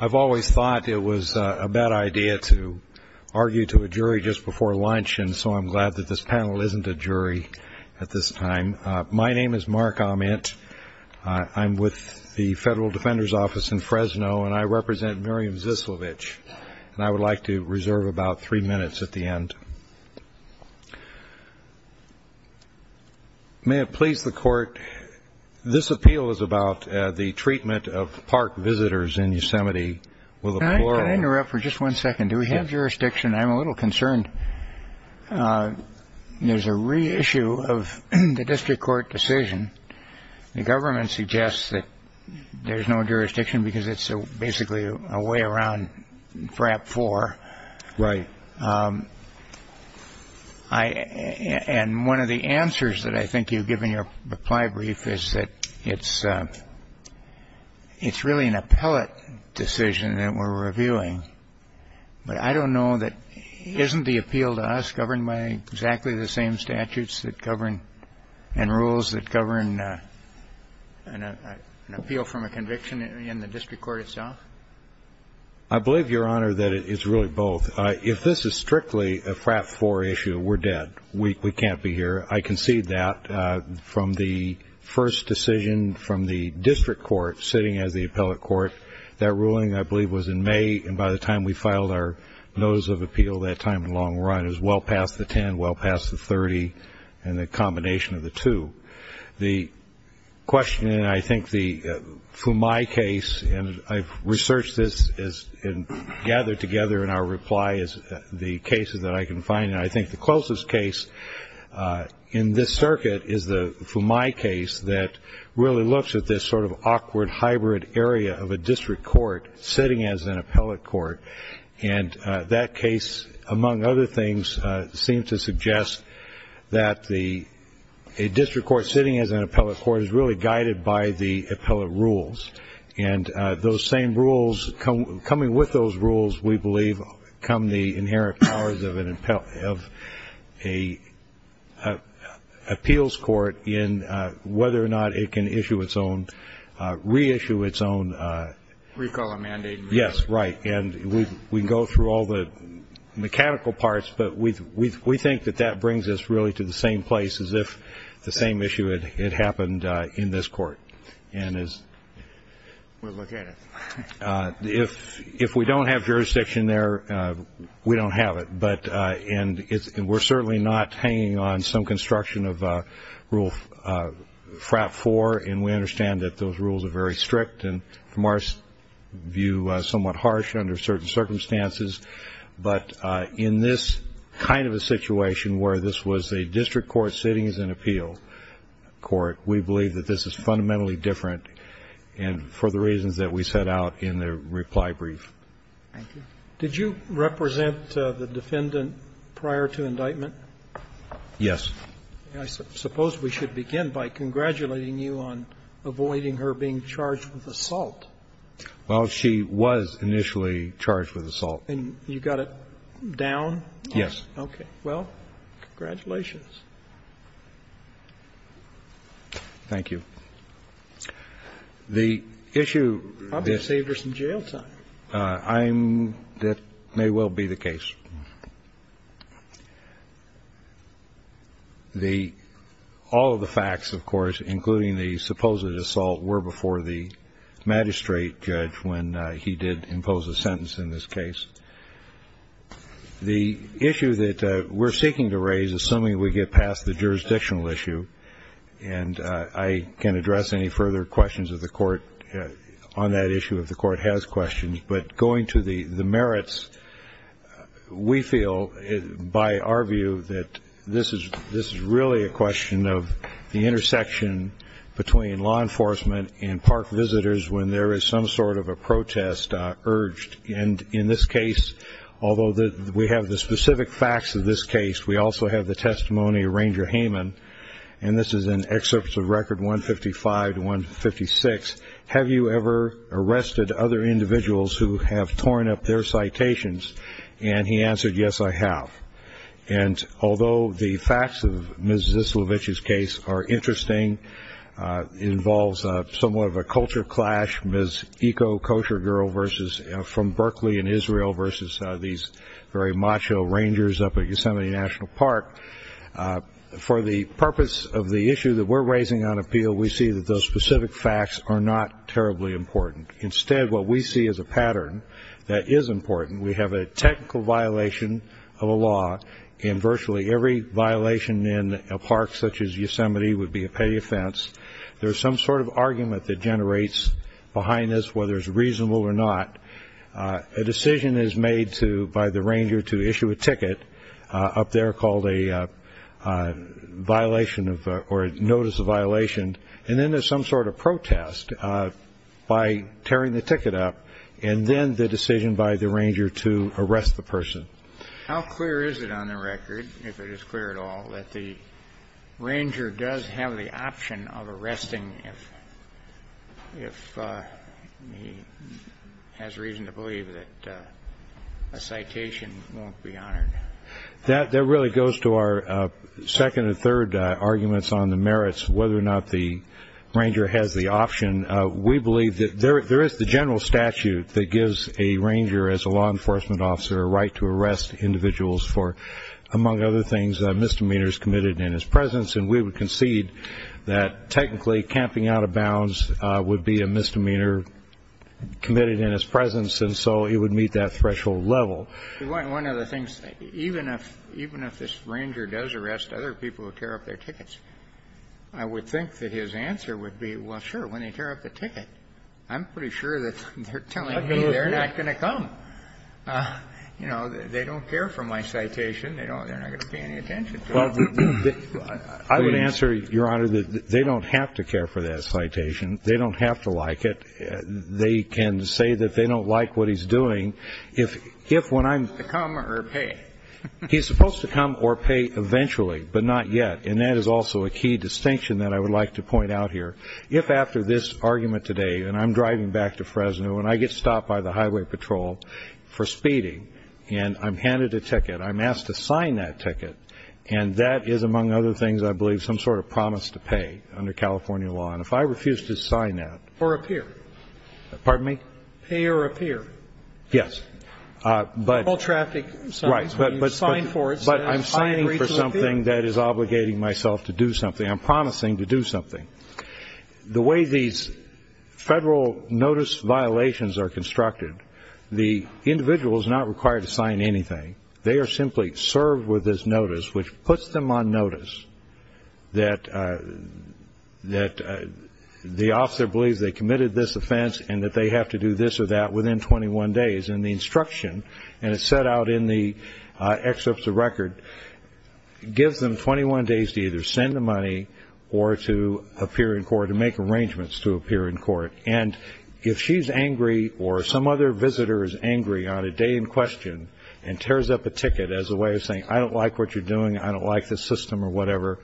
I've always thought it was a bad idea to argue to a jury just before lunch, and so I'm glad that this panel isn't a jury at this time. My name is Mark Ahmet. I'm with the Federal Defender's Office in Fresno, and I represent Miriam Zislovich, and I would like to reserve about three minutes at the end. May it please the Court, this appeal is about the treatment of park visitors in Yosemite with a plural. Could I interrupt for just one second? Do we have jurisdiction? I'm a little concerned. There's a reissue of the district court decision. The government suggests that there's no jurisdiction because it's basically a way around FRAP 4. Right. And one of the answers that I think you give in your reply brief is that it's really an appellate decision that we're reviewing. But I don't know that isn't the appeal to us governed by exactly the same statutes that govern and rules that govern an appeal from a conviction in the district court itself? I believe, Your Honor, that it's really both. If this is strictly a FRAP 4 issue, we're dead. We can't be here. I concede that from the first decision from the district court sitting as the appellate court. That ruling, I believe, was in May, and by the time we filed our notice of appeal that time in the long run it was well past the 10, well past the 30, and the combination of the two. The question, and I think the FUMAI case, and I've researched this and gathered together in our reply, is the cases that I can find, and I think the closest case in this circuit is the FUMAI case that really looks at this sort of awkward hybrid area of a district court sitting as an appellate court. And that case, among other things, seems to suggest that a district court sitting as an appellate court is really guided by the appellate rules. And those same rules, coming with those rules, we believe, come the inherent powers of an appeals court in whether or not it can issue its own, reissue its own. Recall a mandate. Yes, right. And we can go through all the mechanical parts, but we think that that brings us really to the same place as if the same issue had happened in this court. We'll look at it. If we don't have jurisdiction there, we don't have it. And we're certainly not hanging on some construction of Rule FRAP 4, and we understand that those rules are very strict and, from our view, somewhat harsh under certain circumstances. But in this kind of a situation where this was a district court sitting as an appeal court, we believe that this is fundamentally different and for the reasons that we set out in the reply brief. Thank you. Did you represent the defendant prior to indictment? Yes. I suppose we should begin by congratulating you on avoiding her being charged with assault. Well, she was initially charged with assault. And you got it down? Yes. Okay. Well, congratulations. Thank you. The issue that may well be the case. All of the facts, of course, including the supposed assault, were before the magistrate judge when he did impose a sentence in this case. The issue that we're seeking to raise, assuming we get past the jurisdictional issue, and I can address any further questions of the court on that issue if the court has questions, but going to the merits, we feel, by our view, that this is really a question of the intersection between law enforcement and park visitors when there is some sort of a protest urged. And in this case, although we have the specific facts of this case, we also have the testimony of Ranger Hayman, and this is an excerpt of Record 155-156. He says, have you ever arrested other individuals who have torn up their citations? And he answered, yes, I have. And although the facts of Ms. Zislovich's case are interesting, involves somewhat of a culture clash, Ms. Eco Kosher Girl from Berkeley in Israel versus these very macho rangers up at Yosemite National Park, for the purpose of the issue that we're raising on appeal, we see that those specific facts are not terribly important. Instead, what we see is a pattern that is important. We have a technical violation of a law, and virtually every violation in a park such as Yosemite would be a petty offense. There is some sort of argument that generates behind this, whether it's reasonable or not. A decision is made by the ranger to issue a ticket up there called a violation or notice of violation, and then there's some sort of protest by tearing the ticket up, and then the decision by the ranger to arrest the person. How clear is it on the record, if it is clear at all, that the ranger does have the option of arresting if he has reason to believe that a citation won't be honored? That really goes to our second and third arguments on the merits, whether or not the ranger has the option. We believe that there is the general statute that gives a ranger, as a law enforcement officer, a right to arrest individuals for, among other things, misdemeanors committed in his presence, and we would concede that technically camping out of bounds would be a misdemeanor committed in his presence, and so it would meet that threshold level. One of the things, even if this ranger does arrest other people who tear up their tickets, I would think that his answer would be, well, sure, when they tear up the ticket, I'm pretty sure that they're telling me they're not going to come. You know, they don't care for my citation. They're not going to pay any attention to it. I would answer, Your Honor, that they don't have to care for that citation. They don't have to like it. They can say that they don't like what he's doing if when I'm to come or pay. He's supposed to come or pay eventually, but not yet, and that is also a key distinction that I would like to point out here. If after this argument today, and I'm driving back to Fresno, and I get stopped by the highway patrol for speeding, and I'm handed a ticket, I'm asked to sign that ticket, and that is, among other things, I believe, some sort of promise to pay under California law, and if I refuse to sign that. Or appear. Pardon me? Pay or appear. Yes. But. Or traffic. Right. But you sign for it. But I'm signing for something that is obligating myself to do something. I'm promising to do something. The way these federal notice violations are constructed, the individual is not required to sign anything. They are simply served with this notice, which puts them on notice that the officer believes they committed this offense and that they have to do this or that within 21 days. And the instruction, and it's set out in the excerpts of record, gives them 21 days to either send the money or to appear in court, to make arrangements to appear in court. And if she's angry or some other visitor is angry on a day in question and tears up a ticket as a way of saying, I don't like what you're doing, I don't like this system, or whatever,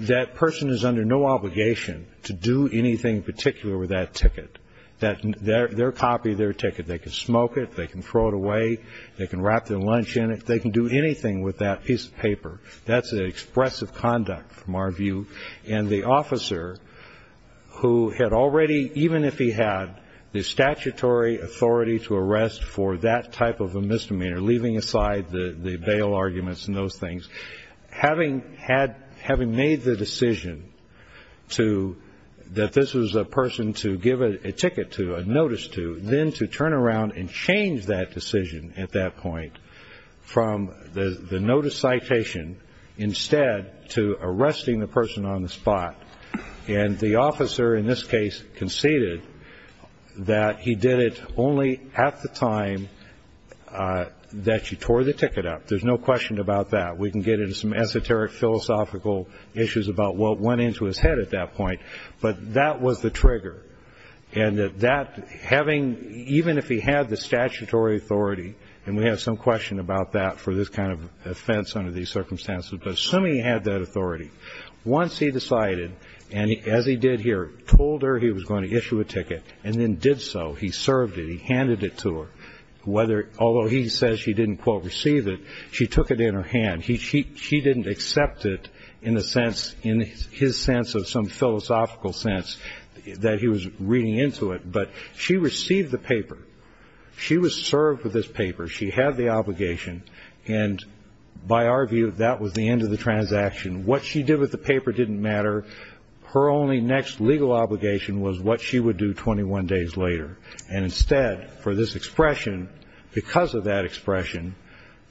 that person is under no obligation to do anything in particular with that ticket. They're a copy of their ticket. They can smoke it, they can throw it away, they can wrap their lunch in it, they can do anything with that piece of paper. That's expressive conduct from our view. And the officer who had already, even if he had the statutory authority to arrest for that type of a misdemeanor, leaving aside the bail arguments and those things, having made the decision that this was a person to give a ticket to, a notice to, then to turn around and change that decision at that point from the notice citation instead to arresting the person on the spot. And the officer in this case conceded that he did it only at the time that she tore the ticket up. There's no question about that. We can get into some esoteric philosophical issues about what went into his head at that point. But that was the trigger. And that having, even if he had the statutory authority, and we have some question about that for this kind of offense under these circumstances, but assuming he had that authority, once he decided, and as he did here, told her he was going to issue a ticket and then did so, he served it, he handed it to her, although he says she didn't, quote, receive it, she took it in her hand. She didn't accept it in his sense of some philosophical sense that he was reading into it. But she received the paper. She was served with this paper. She had the obligation. And by our view, that was the end of the transaction. What she did with the paper didn't matter. Her only next legal obligation was what she would do 21 days later. And instead, for this expression, because of that expression,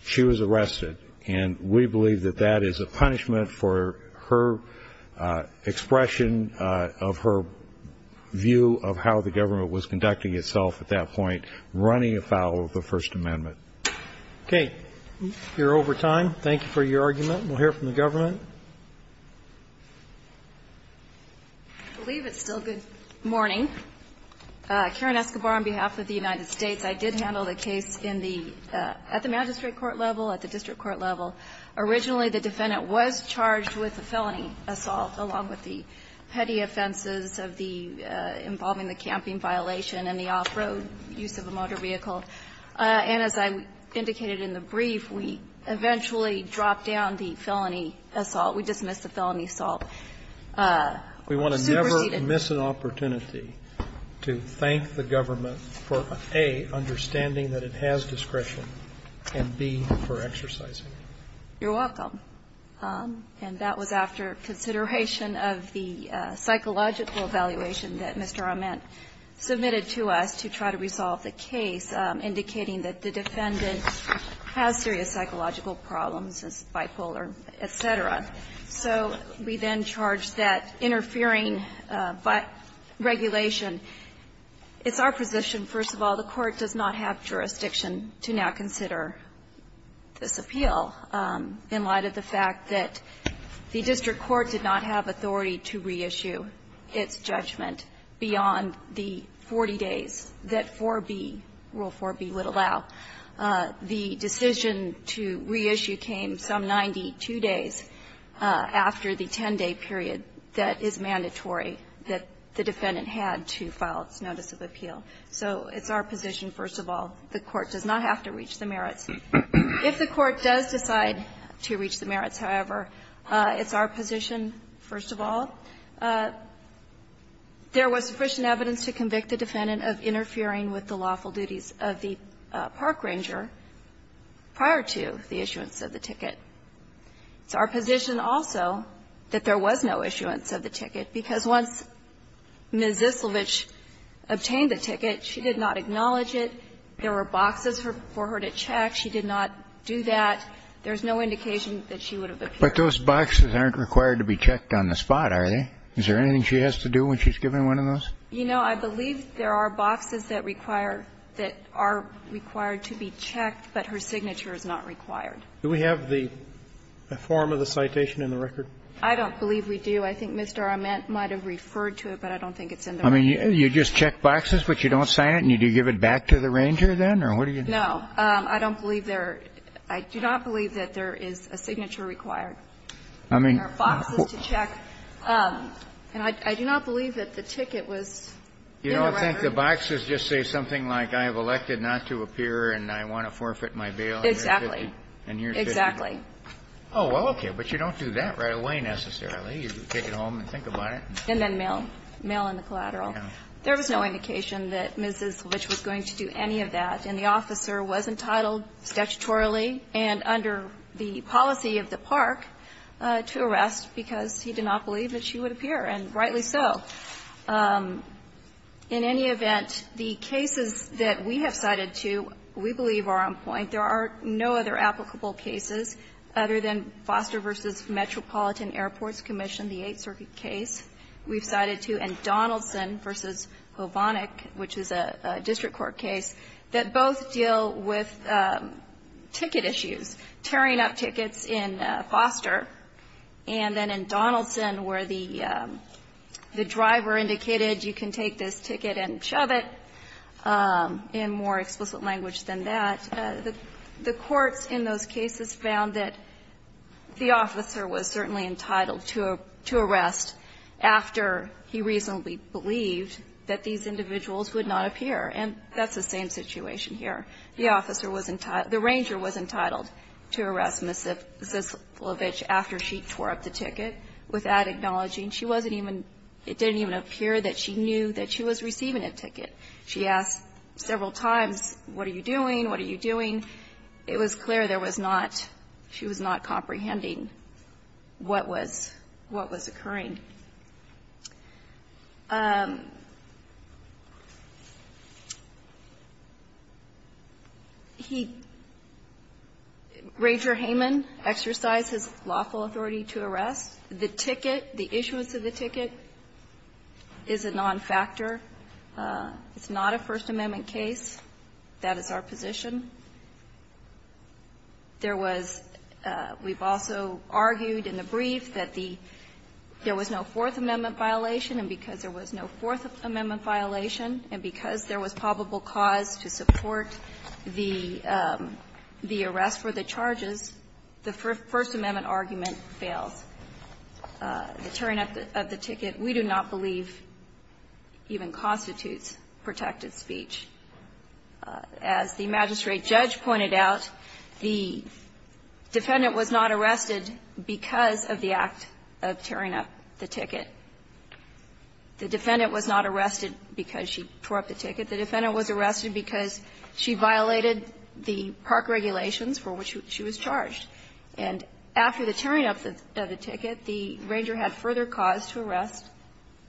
she was arrested. And we believe that that is a punishment for her expression of her view of how the government was conducting itself at that point, running afoul of the First Amendment. Okay. We're over time. Thank you for your argument. We'll hear from the government. I believe it's still good morning. Karen Escobar on behalf of the United States. I did handle the case in the at the magistrate court level, at the district court level. Originally, the defendant was charged with a felony assault, along with the petty offenses of the involving the camping violation and the off-road use of a motor vehicle. And as I indicated in the brief, we eventually dropped down the felony assault. We dismissed the felony assault. We superseded. I didn't miss an opportunity to thank the government for, A, understanding that it has discretion, and, B, for exercising it. You're welcome. And that was after consideration of the psychological evaluation that Mr. Ament submitted to us to try to resolve the case, indicating that the defendant has serious psychological problems, is bipolar, et cetera. So we then charged that interfering regulation. It's our position, first of all, the Court does not have jurisdiction to now consider this appeal in light of the fact that the district court did not have authority to reissue its judgment beyond the 40 days that 4B, Rule 4B, would allow. The decision to reissue came some 92 days after the 10-day period that is mandatory that the defendant had to file its notice of appeal. So it's our position, first of all, the Court does not have to reach the merits. If the Court does decide to reach the merits, however, it's our position, first of all, there was sufficient evidence to convict the defendant of interfering with the lawful duties of the park ranger prior to the issuance of the ticket. It's our position, also, that there was no issuance of the ticket, because once Ms. Zislovich obtained the ticket, she did not acknowledge it. There were boxes for her to check. She did not do that. There's no indication that she would have appeared. Kennedy. But those boxes aren't required to be checked on the spot, are they? Is there anything she has to do when she's given one of those? You know, I believe there are boxes that require that are required to be checked, but her signature is not required. Do we have the form of the citation in the record? I don't believe we do. I think Mr. Arment might have referred to it, but I don't think it's in the record. I mean, you just check boxes, but you don't sign it, and you give it back to the ranger then, or what do you do? No. I don't believe there are – I do not believe that there is a signature required. I mean, there are boxes to check. And I do not believe that the ticket was in the record. You don't think the boxes just say something like, I have elected not to appear and I want to forfeit my bail in year 50? Exactly. In year 50? Exactly. Oh, well, okay. But you don't do that right away, necessarily. You take it home and think about it. And then mail. Mail in the collateral. There was no indication that Mrs. Litch was going to do any of that, and the officer was entitled, statutorily and under the policy of the park, to arrest because he did not believe that she would appear, and rightly so. In any event, the cases that we have cited to, we believe are on point. There are no other applicable cases other than Foster v. Metropolitan Airports Commission, the Eighth Circuit case we've cited to, and Donaldson v. Hovannik, which is a district court case, that both deal with ticket issues, tearing up tickets in Foster, and then in Donaldson, where the driver indicated you can take this ticket and shove it, in more explicit language than that, the courts in those cases found that the officer was certainly entitled to arrest after he reasonably believed that these individuals would not appear, and that's the same situation here. The officer was entitled, the ranger was entitled to arrest Mrs. Litch after she tore up the ticket without acknowledging she wasn't even, it didn't even appear that she knew that she was receiving a ticket. She asked several times, what are you doing, what are you doing? It was clear there was not, she was not comprehending what was, what was occurring. He, Rager Hayman, exercised his lawful authority to arrest. The ticket, the issuance of the ticket is a non-factor. It's not a First Amendment case. That is our position. There was, we've also argued in the brief that the, there was no Fourth Amendment violation, and because there was no Fourth Amendment violation and because there was probable cause to support the, the arrest for the charges, the First Amendment argument fails. The tearing up of the ticket we do not believe even constitutes protected speech. As the magistrate judge pointed out, the defendant was not arrested because of the act of tearing up the ticket. The defendant was not arrested because she tore up the ticket. The defendant was arrested because she violated the park regulations for which she was charged. And after the tearing up of the ticket, the ranger had further cause to arrest,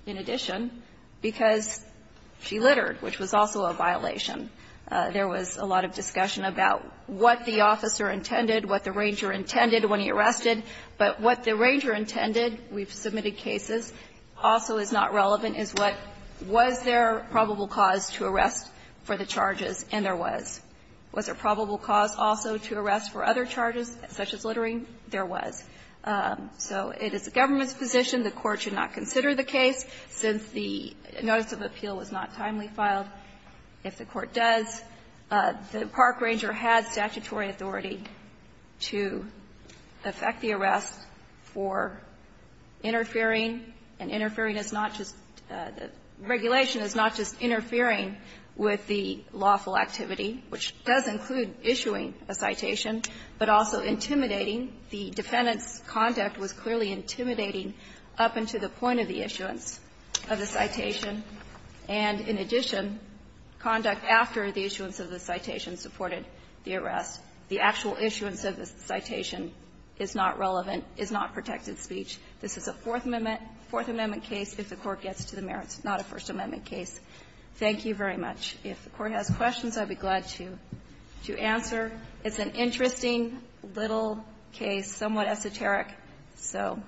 in addition, because she littered, which was also a violation. There was a lot of discussion about what the officer intended, what the ranger intended when he arrested. But what the ranger intended, we've submitted cases, also is not relevant, is what was there probable cause to arrest for the charges, and there was. Was there probable cause also to arrest for other charges, such as littering? There was. So it is the government's position. The Court should not consider the case, since the notice of appeal was not timely filed. If the Court does, the park ranger has statutory authority to effect the arrest for interfering, and interfering is not just the regulation is not just interfering with the lawful activity, which does include issuing a citation, but also intimidating. The defendant's conduct was clearly intimidating up until the point of the issuance of the citation, and in addition, conduct after the issuance of the citation supported the arrest. The actual issuance of the citation is not relevant, is not protected speech. This is a Fourth Amendment case. If the Court gets to the merits, it's not a First Amendment case. Thank you very much. If the Court has questions, I'd be glad to answer. It's an interesting little case, somewhat esoteric, so.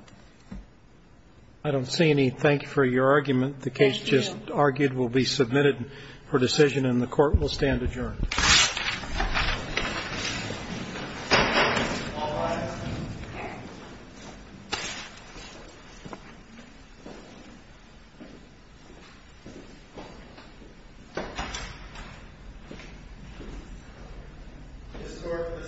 I don't see any. Thank you for your argument. The case just argued will be submitted for decision, and the Court will stand adjourned. This court for the second standing is adjourned.